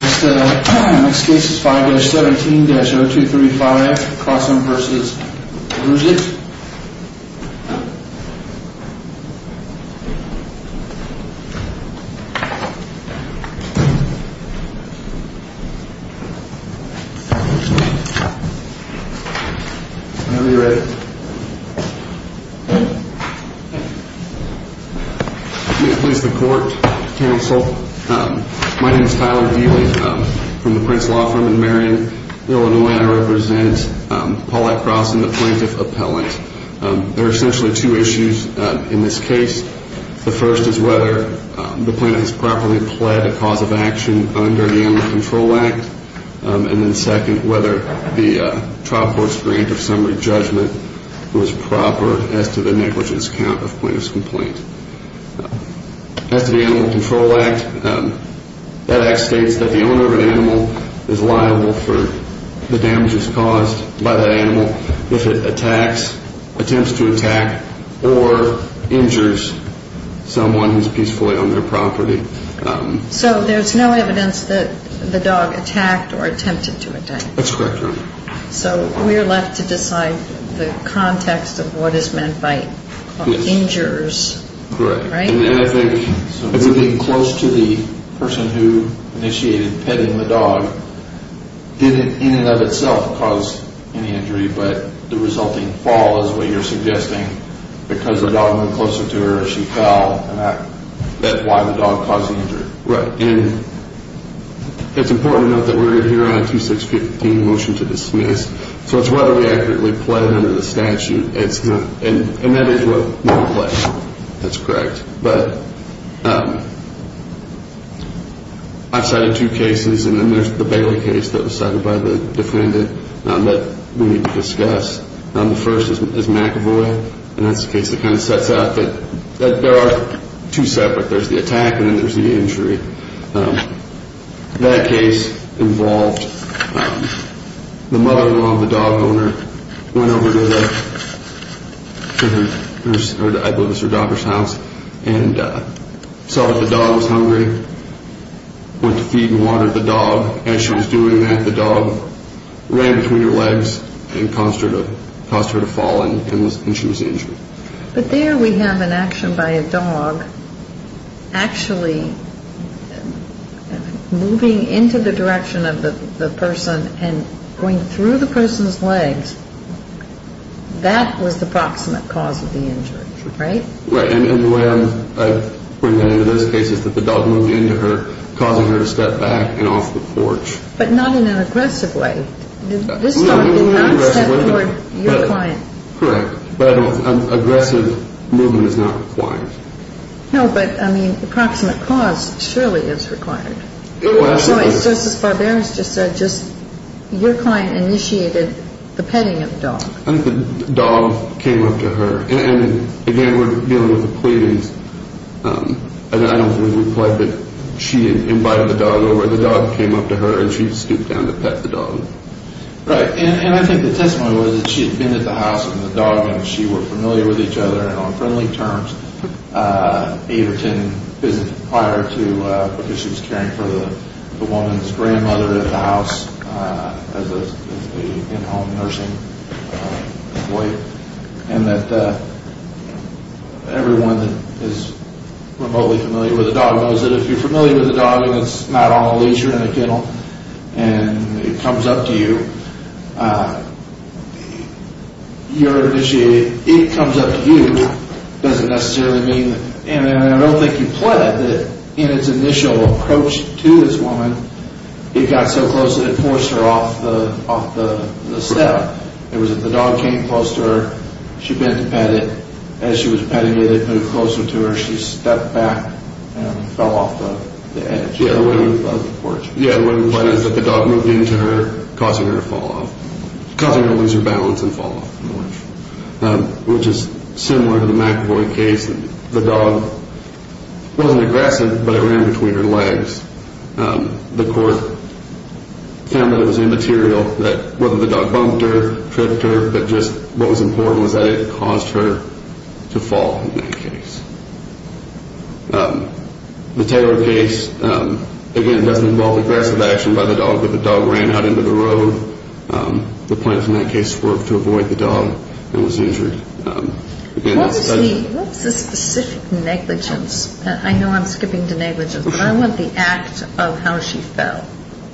Next case is 5-17-0235X, Croson versus Lugic. Whenever you're ready. Please be seated. Please the court, counsel. My name is Tyler Dealy from the Prince Law Firm in Marion, Illinois. I represent Paulette Croson, the plaintiff appellant. There are essentially two issues in this case. The first is whether the plaintiff has properly pled a cause of action under the Animal Control Act, and then second, whether the trial court's grant of summary judgment was proper as to the negligence count of plaintiff's complaint. As to the Animal Control Act, that act states that the owner of an animal is liable for the damages caused by that animal if it attacks, attempts to attack, or injures someone who's peacefully on their property. So there's no evidence that the dog attacked or attempted to attack. That's correct, Your Honor. So we're left to decide the context of what is meant by injures. Correct. Right? I think moving close to the person who initiated petting the dog didn't in and of itself cause any injury, but the resulting fall is what you're suggesting because the dog moved closer to her as she fell, and that's why the dog caused the injury. Right. And it's important to note that we're here on a 2615 motion to dismiss, so it's whether we accurately pled under the statute, and that is what we're pledging. That's correct. But I've cited two cases, and then there's the Bailey case that was cited by the defendant that we need to discuss. The first is McAvoy, and that's the case that kind of sets out that there are two separate. There's the attack and then there's the injury. That case involved the mother-in-law of the dog owner went over to the nurse or I believe it was her daughter's house and saw that the dog was hungry, went to feed and water the dog. As she was doing that, the dog ran between her legs and caused her to fall and she was injured. But there we have an action by a dog actually moving into the direction of the person and going through the person's legs. That was the proximate cause of the injury, right? Right. And the way I bring that into this case is that the dog moved into her, causing her to step back and off the porch. But not in an aggressive way. This dog did not step toward your client. Correct. But aggressive movement is not required. No, but, I mean, approximate cause surely is required. It was. So it's just as Barbera has just said, just your client initiated the petting of the dog. I think the dog came up to her. And, again, we're dealing with the pleadings. I don't know who replied, but she invited the dog over. The dog came up to her and she scooped down to pet the dog. Right. And I think the testimony was that she had been at the house with the dog and she were familiar with each other and on friendly terms. Averton visited prior to, because she was caring for the woman's grandmother at the house as an in-home nursing employee. And that everyone that is remotely familiar with a dog knows that if you're familiar with a dog and it's not on a leash or in a kennel and it comes up to you, your initiated, it comes up to you doesn't necessarily mean, and I don't think you pled that in its initial approach to this woman, it got so close that it forced her off the step. It was that the dog came close to her. She bent to pet it. As she was petting it, it moved closer to her. She stepped back and fell off the edge of the porch. Yeah, the way the plan is that the dog moved into her, causing her to fall off, causing her to lose her balance and fall off the porch, which is similar to the McAvoy case. The dog wasn't aggressive, but it ran between her legs. The court found that it was immaterial that whether the dog bumped her, tripped her, but just what was important was that it caused her to fall in that case. The Taylor case, again, doesn't involve aggressive action by the dog, but the dog ran out into the road. The plans in that case were to avoid the dog and was injured. What was the specific negligence? I know I'm skipping to negligence, but I want the act of how she fell.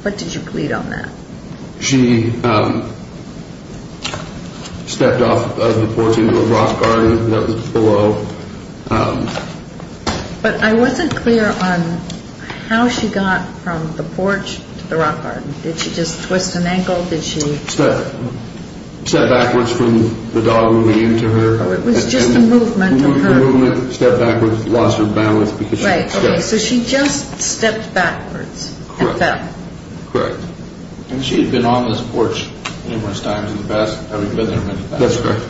What did you plead on that? She stepped off of the porch into a rock garden that was below. But I wasn't clear on how she got from the porch to the rock garden. Did she just twist an ankle? Step backwards from the dog moving into her. It was just the movement of her. It was just the movement, stepped backwards, lost her balance. Right, so she just stepped backwards and fell. Correct. And she had been on this porch numerous times in the past. That's correct.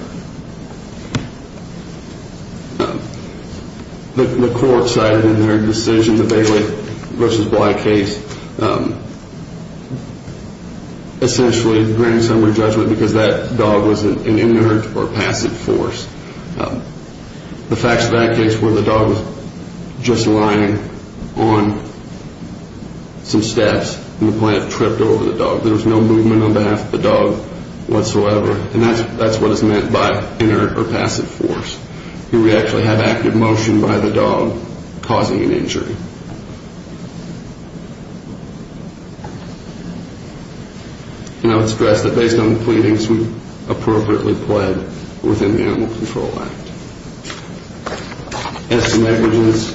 The court cited in their decision, the Bailey v. Bly case, essentially a grand summary judgment because that dog was an inert or passive force. The facts of that case were the dog was just lying on some steps and the plant tripped over the dog. There was no movement on behalf of the dog whatsoever, and that's what is meant by inert or passive force. Here we actually have active motion by the dog causing an injury. And I would stress that based on the pleadings, we appropriately pled within the Animal Control Act. As to negligence,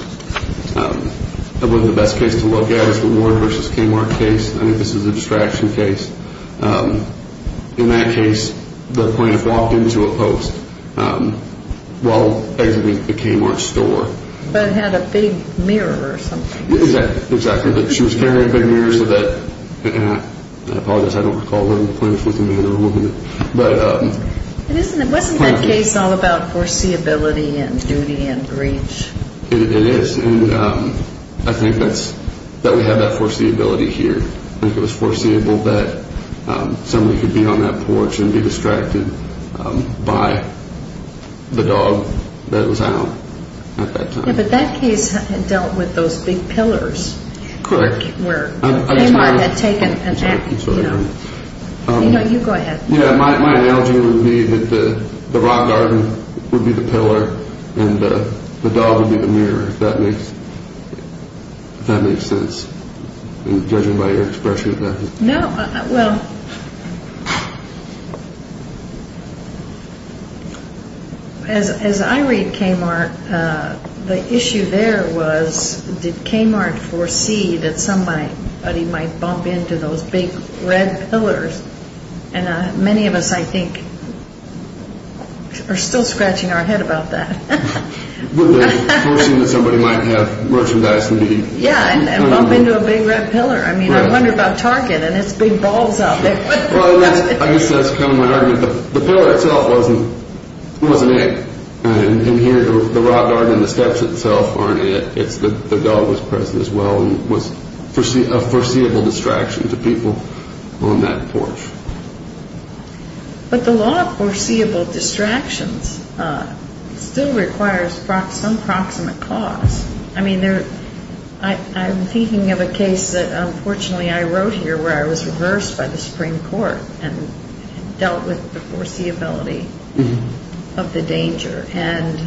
I believe the best case to look at is the Ward v. Kmart case. I think this is a distraction case. In that case, the plaintiff walked into a post while exiting the Kmart store. But it had a big mirror or something. Exactly. She was carrying a big mirror so that, and I apologize, I don't recall whether the plaintiff was a man or a woman. Wasn't that case all about foreseeability and duty and reach? It is, and I think that we have that foreseeability here. I think it was foreseeable that somebody could be on that porch and be distracted by the dog that was out at that time. Yeah, but that case had dealt with those big pillars. Correct. Where Kmart had taken an active, you know. You know, you go ahead. Yeah, my analogy would be that the rock garden would be the pillar and the dog would be the mirror, if that makes sense. Judging by your expression. No, well, as I read Kmart, the issue there was, did Kmart foresee that somebody might bump into those big red pillars? And many of us, I think, are still scratching our head about that. Foreseeing that somebody might have merchandise and be, you know. Yeah, and bump into a big red pillar. I mean, I wonder about Target and its big balls out there. Well, I guess that's kind of my argument. The pillar itself wasn't it. In here, the rock garden, the steps itself aren't it. The dog was present as well and was a foreseeable distraction to people on that porch. But the law of foreseeable distractions still requires some proximate cause. I mean, I'm thinking of a case that unfortunately I wrote here where I was reversed by the Supreme Court and dealt with the foreseeability of the danger and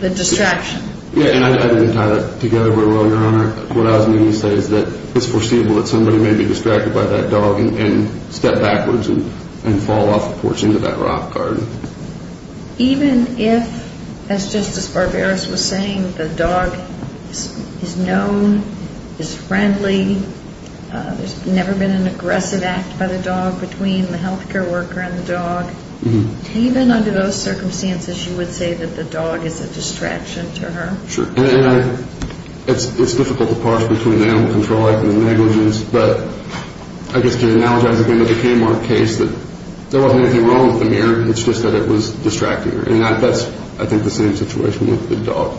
the distraction. Yeah, and I didn't tie that together very well, Your Honor. What I was meaning to say is that it's foreseeable that somebody may be distracted by that dog and step backwards and fall off the porch into that rock garden. Even if, as Justice Barberos was saying, the dog is known, is friendly, there's never been an aggressive act by the dog between the health care worker and the dog, even under those circumstances you would say that the dog is a distraction to her? Sure. And it's difficult to parse between the animal control act and the negligence, but I guess to analogize again to the Kmart case that there wasn't anything wrong with the mirror, it's just that it was distracting her. And that's, I think, the same situation with the dog.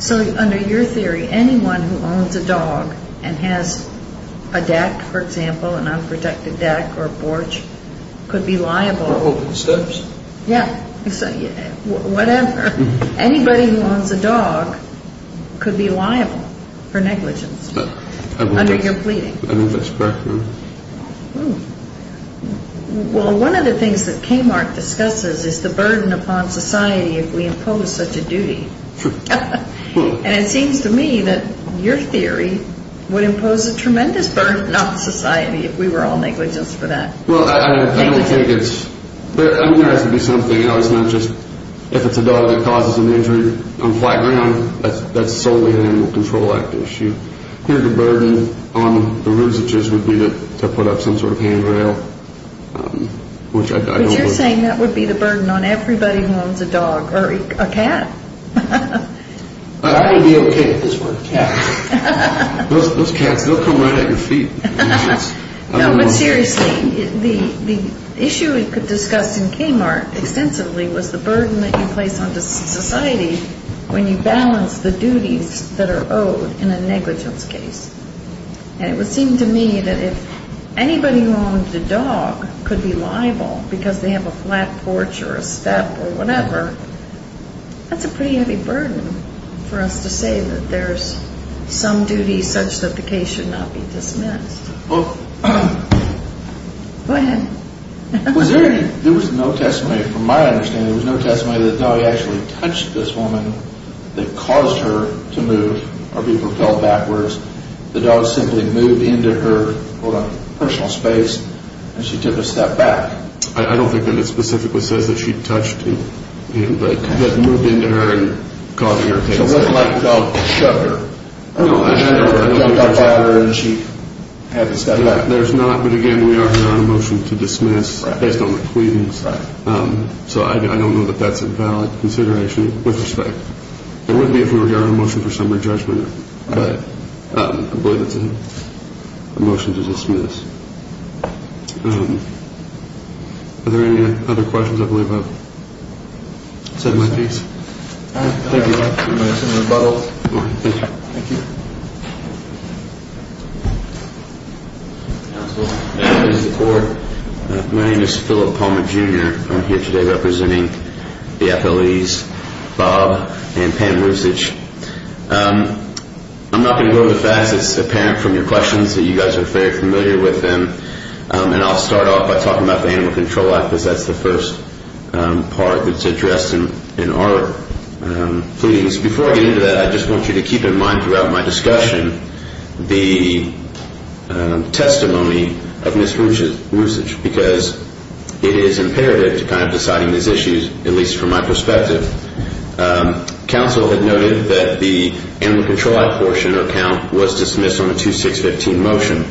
So under your theory, anyone who owns a dog and has a deck, for example, an unprotected deck or porch, could be liable... For holding steps? Yeah, whatever. Anybody who owns a dog could be liable for negligence under your pleading. I think that's correct. Well, one of the things that Kmart discusses is the burden upon society if we impose such a duty. And it seems to me that your theory would impose a tremendous burden on society if we were all negligent for that. Well, I don't think it's... Anybody that causes an injury on flat ground, that's solely an animal control act issue. Here the burden on the ruseages would be to put up some sort of handrail, which I don't... But you're saying that would be the burden on everybody who owns a dog or a cat. I would be okay if this were a cat. Those cats, they'll come right at your feet. No, but seriously, the issue we discussed in Kmart extensively was the burden that you place on society when you balance the duties that are owed in a negligence case. And it would seem to me that if anybody who owns a dog could be liable because they have a flat porch or a step or whatever, that's a pretty heavy burden for us to say that there's some duty such that the case should not be dismissed. Well... Go ahead. There was no testimony, from my understanding, there was no testimony that the dog actually touched this woman that caused her to move or be propelled backwards. The dog simply moved into her personal space and she took a step back. I don't think that it specifically says that she touched him. But moved into her and causing her pain. So it wasn't like the dog shoved her. No, I don't think so. The dog got at her and she had to step back. There's not, but again, we are here on a motion to dismiss based on the pleadings. So I don't know that that's a valid consideration with respect. It would be if we were here on a motion for summary judgment. But I believe it's a motion to dismiss. Are there any other questions? I believe I've said my piece. Thank you. Thank you. My name is Phillip Palmer, Jr. I'm here today representing the FLEs, Bob and Pam. I'm not going to go over the facts. It's apparent from your questions that you guys are very familiar with them. And I'll start off by talking about the Animal Control Act because that's the first part that's addressed in our pleadings. Before I get into that, I just want you to keep in mind throughout my discussion the testimony of Ms. Ruchage. Because it is imperative to kind of deciding these issues, at least from my perspective. Council had noted that the Animal Control Act portion or count was dismissed on a 2-6-15 motion.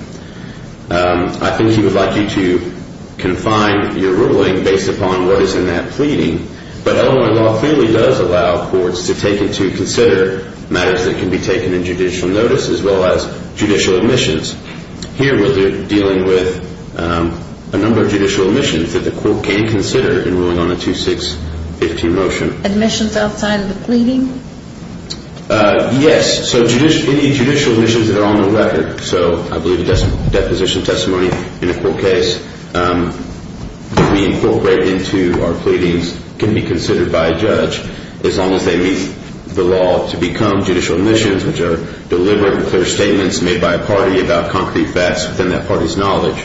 I think we would like you to confine your ruling based upon what is in that pleading. But Illinois law clearly does allow courts to take into consider matters that can be taken in judicial notice as well as judicial admissions. Here we're dealing with a number of judicial admissions that the court can consider in ruling on a 2-6-15 motion. Admissions outside of the pleading? Yes. So any judicial admissions that are on the record. So I believe a deposition testimony in a court case that we incorporate into our pleadings can be considered by a judge as long as they meet the law to become judicial admissions, which are deliberate and clear statements made by a party about concrete facts within that party's knowledge.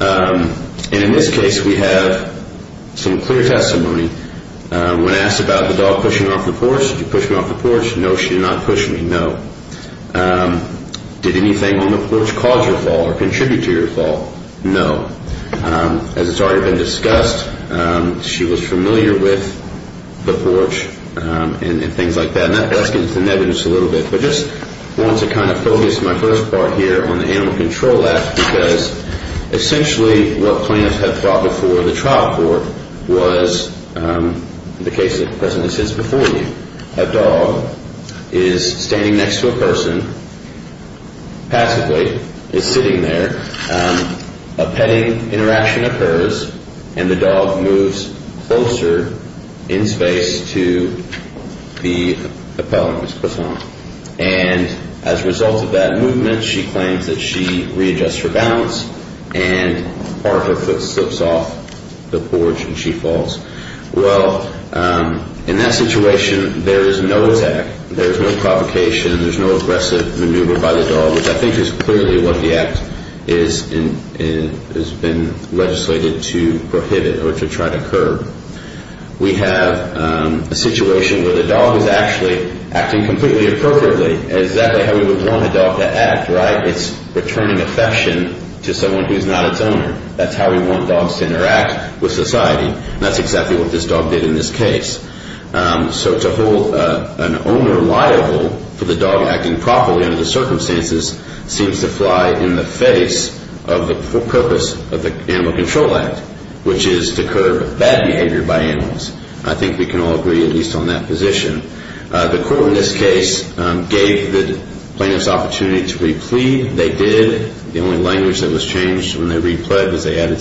And in this case, we have some clear testimony. When asked about the dog pushing her off the porch, did you push me off the porch? No, she did not push me. No. Did anything on the porch cause your fall or contribute to your fall? No. As has already been discussed, she was familiar with the porch and things like that. And that gets into the evidence a little bit. But I just want to kind of focus my first part here on the Animal Control Act because essentially what plaintiffs have brought before the trial court was the case that presently sits before you. A dog is standing next to a person passively, is sitting there. A petting interaction occurs, and the dog moves closer in space to the appellant, Ms. Platon. And as a result of that movement, she claims that she readjusts her balance, and part of her foot slips off the porch and she falls. Well, in that situation, there is no attack. There is no provocation. There is no aggressive maneuver by the dog, which I think is clearly what the Act has been legislated to prohibit or to try to curb. We have a situation where the dog is actually acting completely appropriately, exactly how we would want a dog to act, right? It's returning affection to someone who is not its owner. That's how we want dogs to interact with society. That's exactly what this dog did in this case. So to hold an owner liable for the dog acting properly under the circumstances seems to fly in the face of the purpose of the Animal Control Act, which is to curb bad behavior by animals. I think we can all agree at least on that position. The court in this case gave the plaintiffs opportunity to re-plead. They did. The only language that was changed when they re-pled was they added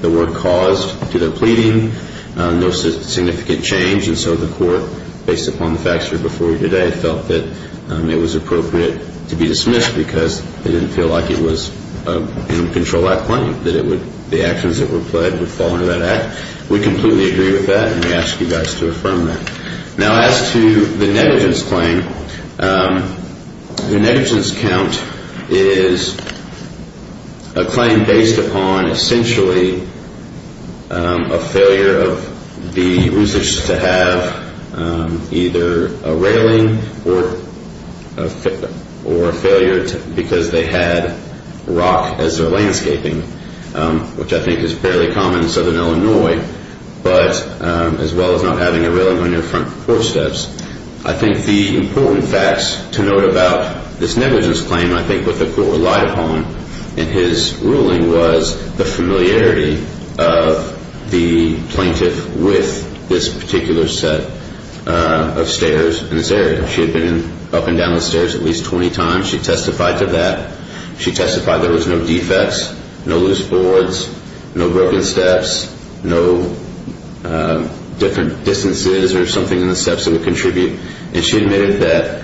the word caused to their pleading, no significant change. And so the court, based upon the facts from before today, felt that it was appropriate to be dismissed because they didn't feel like it was an Animal Control Act claim, that the actions that were pled would fall under that Act. We completely agree with that, and we ask you guys to affirm that. Now as to the negligence claim, the negligence count is a claim based upon essentially a failure of the users to have either a railing or a failure because they had rock as their landscaping, which I think is fairly common in southern Illinois, but as well as not having a railing on their front footsteps. I think the important facts to note about this negligence claim, I think what the court relied upon in his ruling was the familiarity of the plaintiff with this particular set of stairs in this area. She had been up and down the stairs at least 20 times. She testified to that. She testified there was no defects, no loose boards, no broken steps, no different distances or something in the steps that would contribute, and she admitted that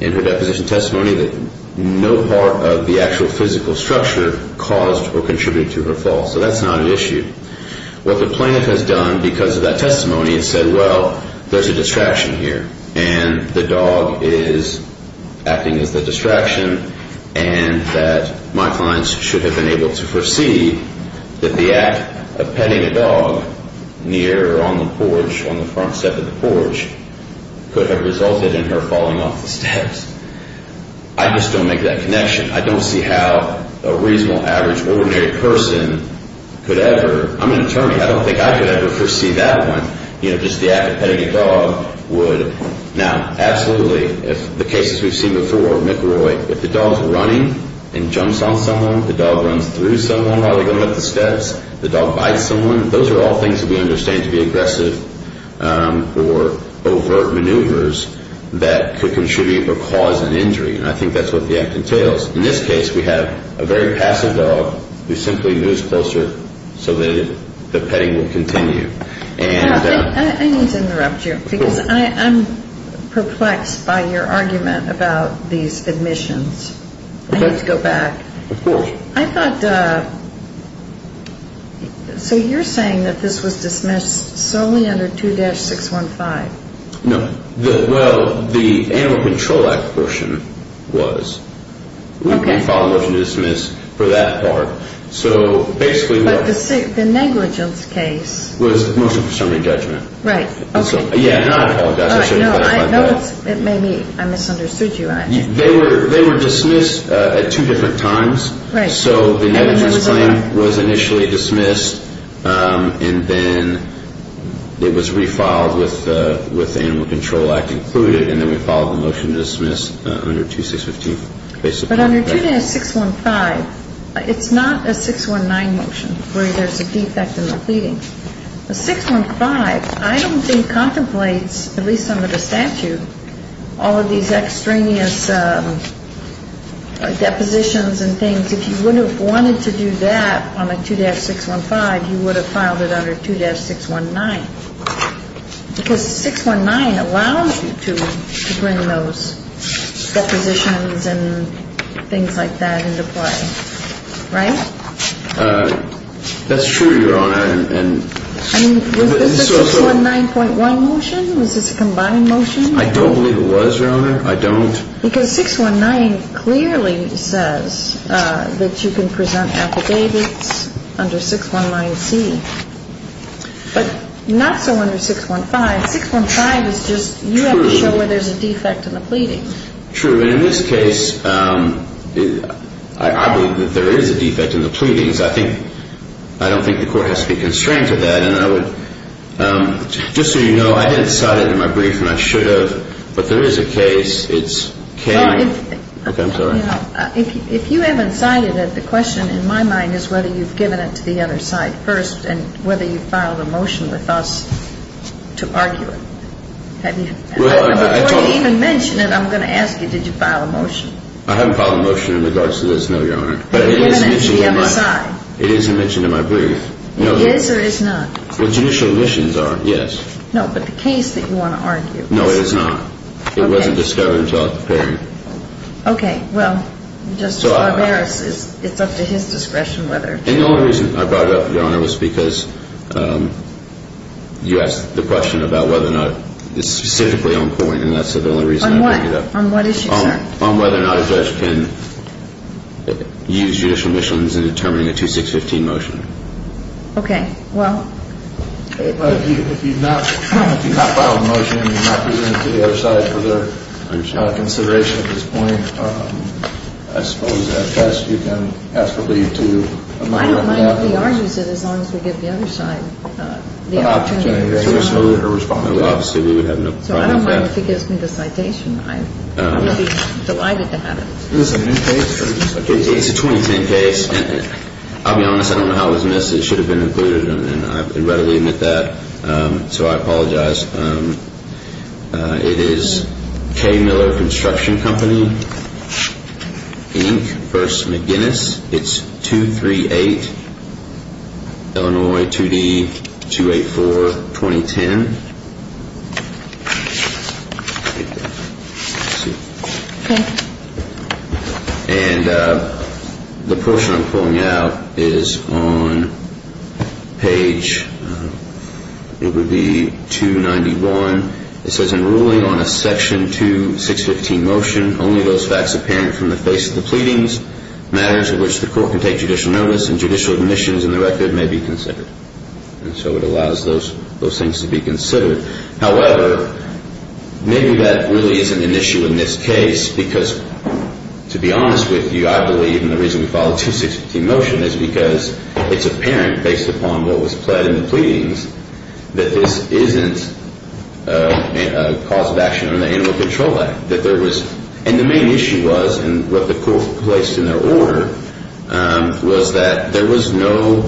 in her deposition testimony that no part of the actual physical structure caused or contributed to her fall. So that's not an issue. What the plaintiff has done because of that testimony is said, well, there's a distraction here, and the dog is acting as the distraction, and that my clients should have been able to foresee that the act of petting a dog near or on the porch, on the front step of the porch, could have resulted in her falling off the steps. I just don't make that connection. I don't see how a reasonable, average, ordinary person could ever. I'm an attorney. I don't think I could ever foresee that one, you know, just the act of petting a dog would. Now, absolutely, if the cases we've seen before, McElroy, if the dog's running and jumps on someone, the dog runs through someone while they're going up the steps, the dog bites someone, those are all things that we understand to be aggressive or overt maneuvers that could contribute or cause an injury, and I think that's what the act entails. In this case, we have a very passive dog who simply moves closer so that the petting will continue. I need to interrupt you because I'm perplexed by your argument about these admissions. I need to go back. Of course. I thought, so you're saying that this was dismissed solely under 2-615? No. Well, the Animal Control Act version was. Okay. We followed up to dismiss for that part. But the negligence case. It was mostly for summary judgment. Right, okay. Yeah, and I apologize. No, maybe I misunderstood you. They were dismissed at two different times. Right. So the negligence claim was initially dismissed, and then it was refiled with the Animal Control Act included, and then we followed the motion to dismiss under 2-615. But under 2-615, it's not a 619 motion where there's a defect in the pleading. The 615, I don't think contemplates, at least under the statute, all of these extraneous depositions and things. If you would have wanted to do that on a 2-615, you would have filed it under 2-619 because 619 allows you to bring those depositions and things like that into play, right? That's true, Your Honor. I mean, was this a 619.1 motion? Was this a combined motion? I don't believe it was, Your Honor. I don't. Because 619 clearly says that you can present affidavits under 619C. But not so under 615. 615 is just you have to show where there's a defect in the pleading. True. And in this case, I believe that there is a defect in the pleadings. I don't think the court has to be constrained to that. And I would, just so you know, I didn't cite it in my brief, and I should have. But there is a case. It's K. Okay. I'm sorry. If you haven't cited it, the question in my mind is whether you've given it to the other side first and whether you filed a motion with us to argue it. Before you even mention it, I'm going to ask you, did you file a motion? I haven't filed a motion in regards to this, no, Your Honor. But it is mentioned in my brief. It is or it is not? What judicial omissions are, yes. No, but the case that you want to argue. No, it is not. It wasn't discovered until at the hearing. Okay. Well, just barbarous. It's up to his discretion whether. And the only reason I brought it up, Your Honor, was because you asked the question about whether or not it's specifically on point, and that's the only reason I bring it up. On what issue, sir? On whether or not a judge can use judicial omissions in determining a 2615 motion. Okay. Well. If you've not filed a motion and you've not presented it to the other side for further consideration at this point, I suppose at best you can ask a leave to a minor. I don't mind if he argues it as long as we give the other side the opportunity to respond. Obviously, we would have no problem with that. So I don't mind if he gives me the citation. I would be delighted to have it. Is this a new case? It's a 2010 case. I'll be honest. I don't know how it was missed. It should have been included, and I readily admit that. So I apologize. It is K. Miller Construction Company, Inc. v. McGinnis. It's 238 Illinois 2D 284, 2010. Okay. And the portion I'm pulling out is on page, it would be 291. It says in ruling on a section 2615 motion, only those facts apparent from the face of the pleadings, matters in which the court can take judicial notice and judicial omissions in the record may be considered. And so it allows those things to be considered. However, maybe that really isn't an issue in this case because, to be honest with you, I believe, and the reason we filed a 2615 motion is because it's apparent, based upon what was pled in the pleadings, that this isn't a cause of action under the Animal Control Act. And the main issue was, and what the court placed in their order, was that there was no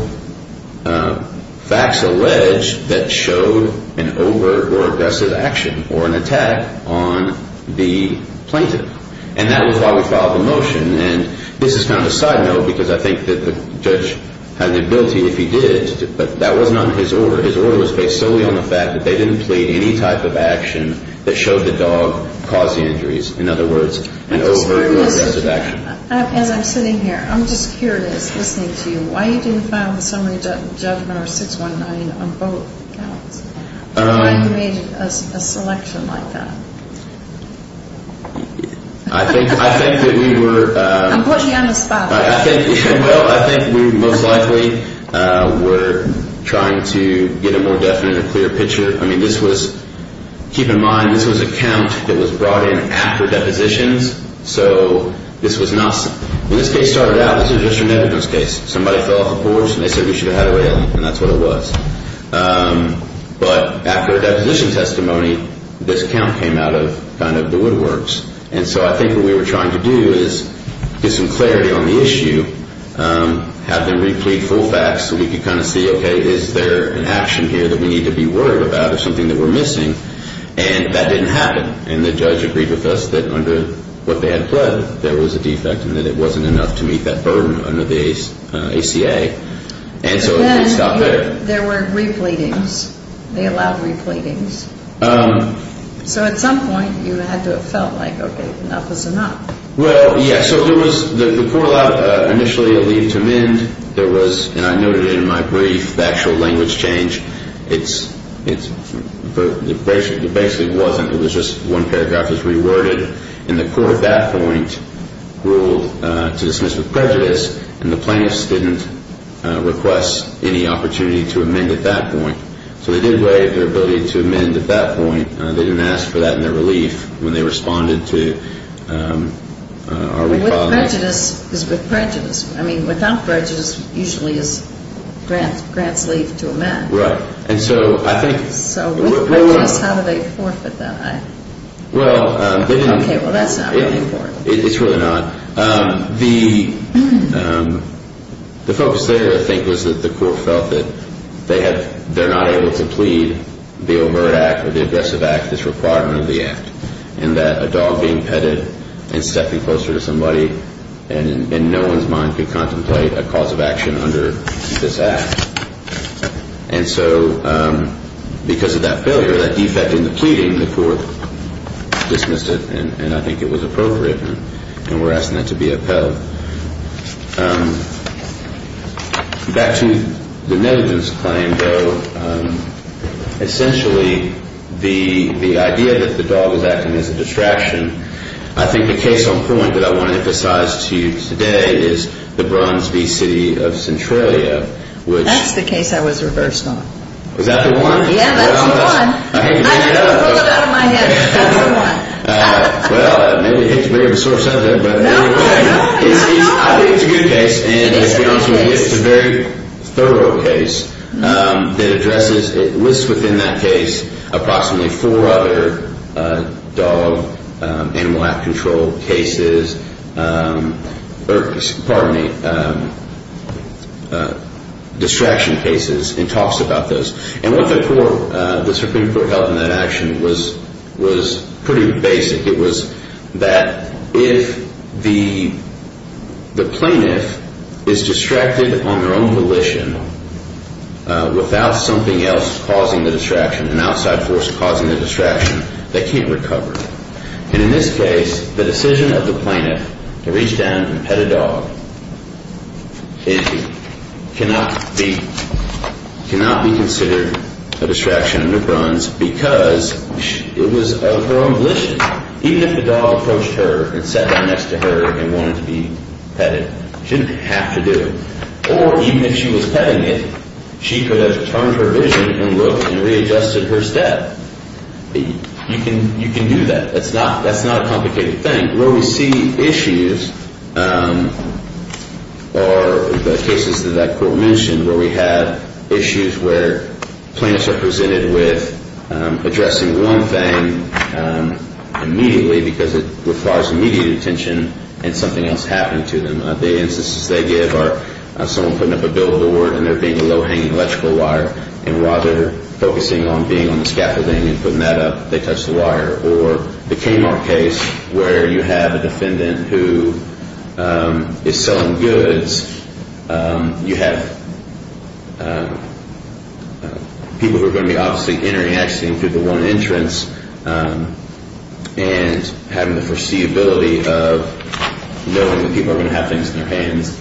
facts alleged that showed an over or aggressive action or an attack on the plaintiff. And that was why we filed the motion. And this is kind of a side note because I think that the judge had the ability, if he did, but that wasn't under his order. His order was based solely on the fact that they didn't plead any type of action that showed the dog caused the injuries. In other words, an over or aggressive action. As I'm sitting here, I'm just curious, listening to you, why you didn't file the summary judgment or 619 on both counts? Why you made a selection like that? I think that we were... I'm putting you on the spot. Well, I think we most likely were trying to get a more definite and clear picture. I mean, this was... Keep in mind, this was a count that was brought in after depositions. So this was not... When this case started out, this was just a negligence case. Somebody fell off a horse and they said we should have had a way out. And that's what it was. But after a deposition testimony, this count came out of kind of the woodworks. And so I think what we were trying to do is get some clarity on the issue, have them replete full facts so we could kind of see, okay, is there an action here that we need to be worried about or something that we're missing? And that didn't happen. And the judge agreed with us that under what they had pled, there was a defect and that it wasn't enough to meet that burden under the ACA. And so it stopped there. But then there were repletings. They allowed repletings. So at some point, you had to have felt like, okay, enough is enough. Well, yeah. So there was... The court allowed initially a leave to mend. There was, and I noted it in my brief, the actual language change. It basically wasn't. It was just one paragraph was reworded. And the court at that point ruled to dismiss with prejudice. And the plaintiffs didn't request any opportunity to amend at that point. So they did waive their ability to amend at that point. They didn't ask for that in their relief when they responded to our recall. With prejudice is with prejudice. I mean, without prejudice usually is grants leave to amend. Right. And so I think... So with prejudice, how do they forfeit that? Well, they didn't... Okay, well, that's not really important. It's really not. The focus there, I think, was that the court felt that they're not able to plead the overt act or the aggressive act that's required under the act. And that a dog being petted and stepping closer to somebody and in no one's mind could contemplate a cause of action under this act. And so because of that failure, that defect in the pleading, the court dismissed it, and I think it was appropriate. And we're asking that to be upheld. Back to the negligence claim, though, essentially the idea that the dog is acting as a distraction, I think the case on point that I want to emphasize to you today is the Bruns v. City of Centralia. That's the case I was reversed on. Was that the one? Yeah, that's the one. I had to pull it out of my head. That's the one. Well, maybe it's a bit of a sore subject. No, no, no. I think it's a good case. It is a good case. And to be honest with you, it's a very thorough case that addresses, it lists within that case approximately four other dog animal act control cases, or pardon me, distraction cases and talks about those. And what the Supreme Court held in that action was pretty basic. It was that if the plaintiff is distracted on their own volition without something else causing the distraction, an outside force causing the distraction, they can't recover. And in this case, the decision of the plaintiff to reach down and pet a dog cannot be considered a distraction under Bruns because it was of her own volition. Even if the dog approached her and sat down next to her and wanted to be petted, she didn't have to do it. Or even if she was petting it, she could have turned her vision and looked and readjusted her step. You can do that. That's not a complicated thing. Where we see issues are the cases that that court mentioned where we have issues where plaintiffs are presented with addressing one thing immediately because it requires immediate attention and something else happening to them. The instances they give are someone putting up a billboard and there being a low-hanging electrical wire and while they're focusing on being on the scaffolding and putting that up, they touch the wire. Or the Kmart case where you have a defendant who is selling goods. You have people who are going to be obviously interacting through the one entrance and having the foreseeability of knowing that people are going to have things in their hands.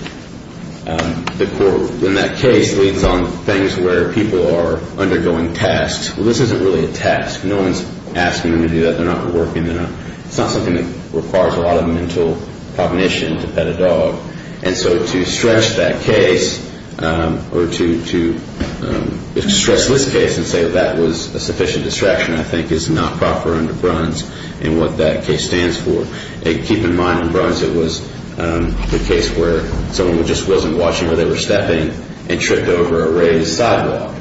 The court in that case leads on things where people are undergoing tasks. Well, this isn't really a task. No one is asking them to do that. They're not working. It's not something that requires a lot of mental cognition to pet a dog. And so to stretch that case or to stretch this case and say that was a sufficient distraction I think is not proper under Bruns and what that case stands for. Keep in mind in Bruns it was the case where someone just wasn't watching where they were stepping and tripped over a raised sidewalk.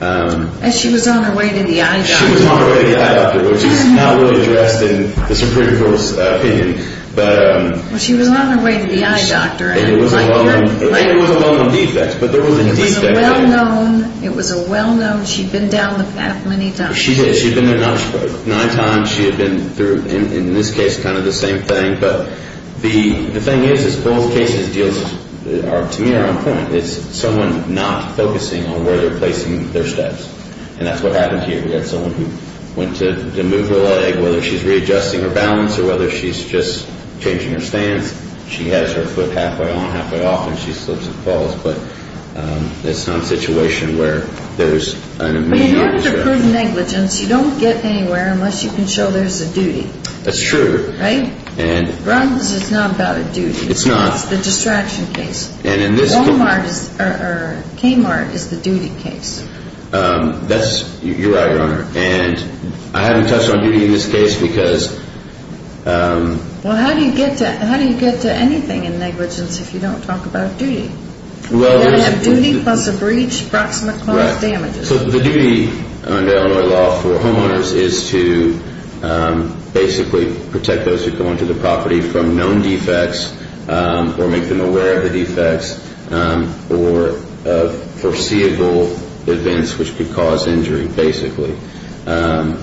And she was on her way to the eye doctor. She was on her way to the eye doctor, which is not really addressed in the Supreme Court's opinion. Well, she was on her way to the eye doctor. And it was a well-known defect, but there was a defect. It was a well-known. It was a well-known. She'd been down the path many times. She did. She'd been there nine times. She had been through, in this case, kind of the same thing. But the thing is, is both cases just are, to me, are on point. It's someone not focusing on where they're placing their steps. And that's what happened here. We had someone who went to move her leg, whether she's readjusting her balance or whether she's just changing her stance. She has her foot halfway on, halfway off, and she slips and falls. But it's not a situation where there's an immediate objection. But if you have to prove negligence, you don't get anywhere unless you can show there's a duty. That's true. Right? Bruns is not about a duty. It's not. It's the distraction case. Walmart or Kmart is the duty case. That's right, Your Honor. And I haven't touched on duty in this case because... Well, how do you get to anything in negligence if you don't talk about duty? You've got to have duty plus a breach, approximate cost, damages. So the duty under Illinois law for homeowners is to basically protect those who come onto the property from known defects or make them aware of the defects or of foreseeable events which could cause injury, basically. And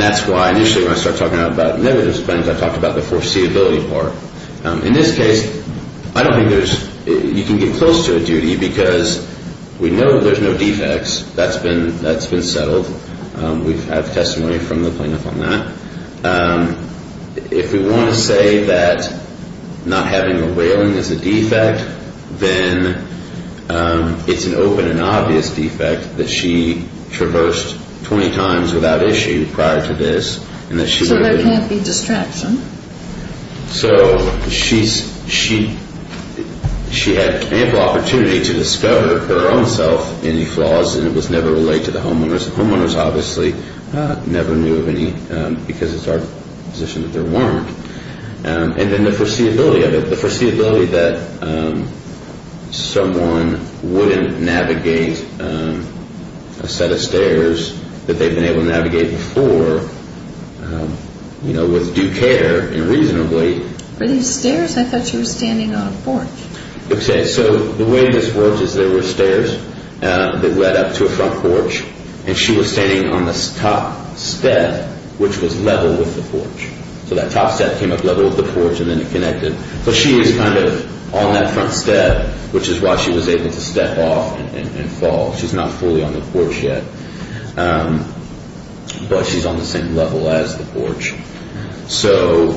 that's why initially when I started talking about negligence, I talked about the foreseeability part. In this case, I don't think there's... You can get close to a duty because we know there's no defects. That's been settled. We've had testimony from the plaintiff on that. If we want to say that not having a whaling is a defect, then it's an open and obvious defect that she traversed 20 times without issue prior to this. So there can't be distraction. So she had ample opportunity to discover for herself any flaws and it was never relayed to the homeowners. The homeowners obviously never knew of any because it's our position that there weren't. And then the foreseeability of it, the foreseeability that someone wouldn't navigate a set of stairs that they've been able to navigate before with due care and reasonably. Were these stairs? I thought you were standing on a porch. Okay. So the way this works is there were stairs that led up to a front porch and she was standing on the top step, which was level with the porch. So that top step came up level with the porch and then it connected. But she was kind of on that front step, which is why she was able to step off and fall. She's not fully on the porch yet, but she's on the same level as the porch. So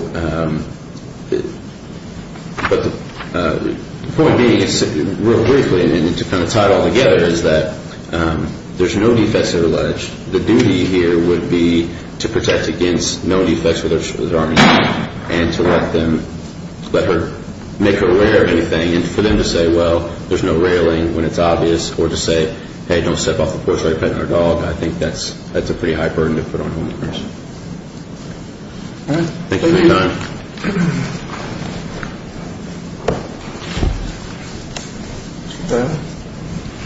the point being is, real briefly and to kind of tie it all together, is that there's no defects that are alleged. The duty here would be to protect against no defects with her arm injury and to let her make her way or anything. And for them to say, well, there's no railing when it's obvious or to say, hey, don't step off the porch while you're petting our dog, I think that's a pretty high burden to put on a homeless person. All right. Thank you for your time.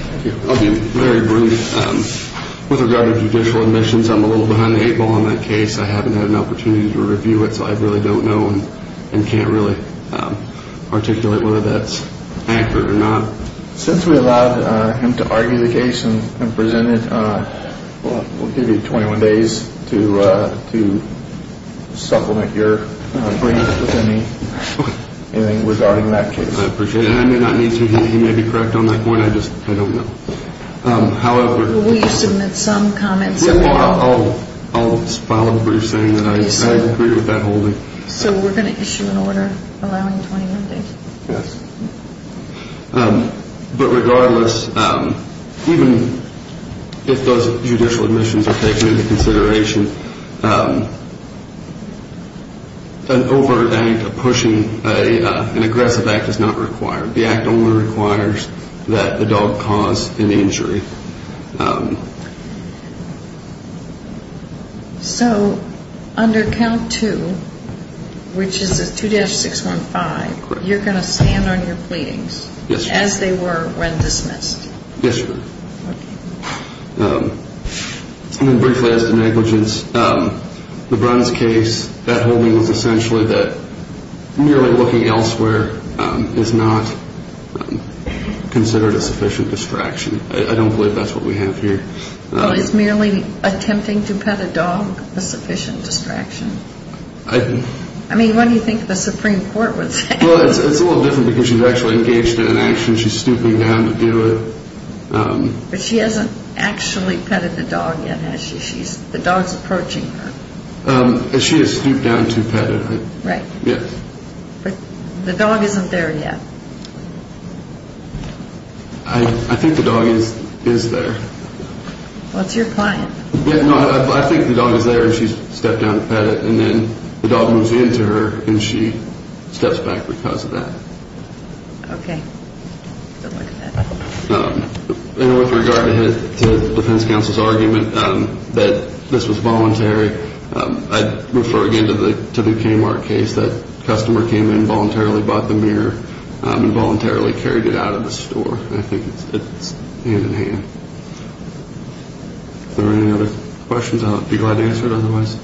Thank you. I'll be very brief. With regard to judicial admissions, I'm a little behind the eight ball on that case. I haven't had an opportunity to review it, so I really don't know and can't really articulate whether that's accurate or not. Since we allowed him to argue the case and present it, we'll give you 21 days to supplement your brief with anything regarding that case. I appreciate it. I may not need to. He may be correct on that point. I just don't know. However, Will you submit some comments at all? I'll follow what you're saying. I agree with that whole thing. So we're going to issue an order allowing 21 days? Yes. But regardless, even if those judicial admissions are taken into consideration, an overt act of pushing an aggressive act is not required. The act only requires that the dog cause an injury. So under count two, which is a 2-615, you're going to stand on your pleadings as they were when dismissed? Yes, sir. And then briefly as to negligence, LeBron's case, that whole thing was essentially that merely looking elsewhere is not considered a sufficient distraction. I don't believe that's what we have here. Well, is merely attempting to pet a dog a sufficient distraction? I think. I mean, what do you think the Supreme Court would say? Well, it's a little different because she's actually engaged in an action. She's stooping down to do it. But she hasn't actually petted the dog yet, has she? The dog's approaching her. She has stooped down to pet it. Right. Yes. But the dog isn't there yet. I think the dog is there. What's your point? No, I think the dog is there and she's stepped down to pet it, and then the dog moves into her and she steps back because of that. Okay. I don't like that. And with regard to the defense counsel's argument that this was voluntary, I'd refer again to the Kmart case. That customer came in voluntarily, bought the mirror, and voluntarily carried it out of the store. I think it's hand-in-hand. If there are any other questions, I'll be glad to answer it otherwise.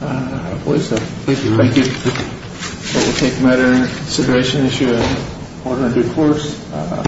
I believe so. Thank you. Thank you. We'll take a matter of consideration, issue a order in due course.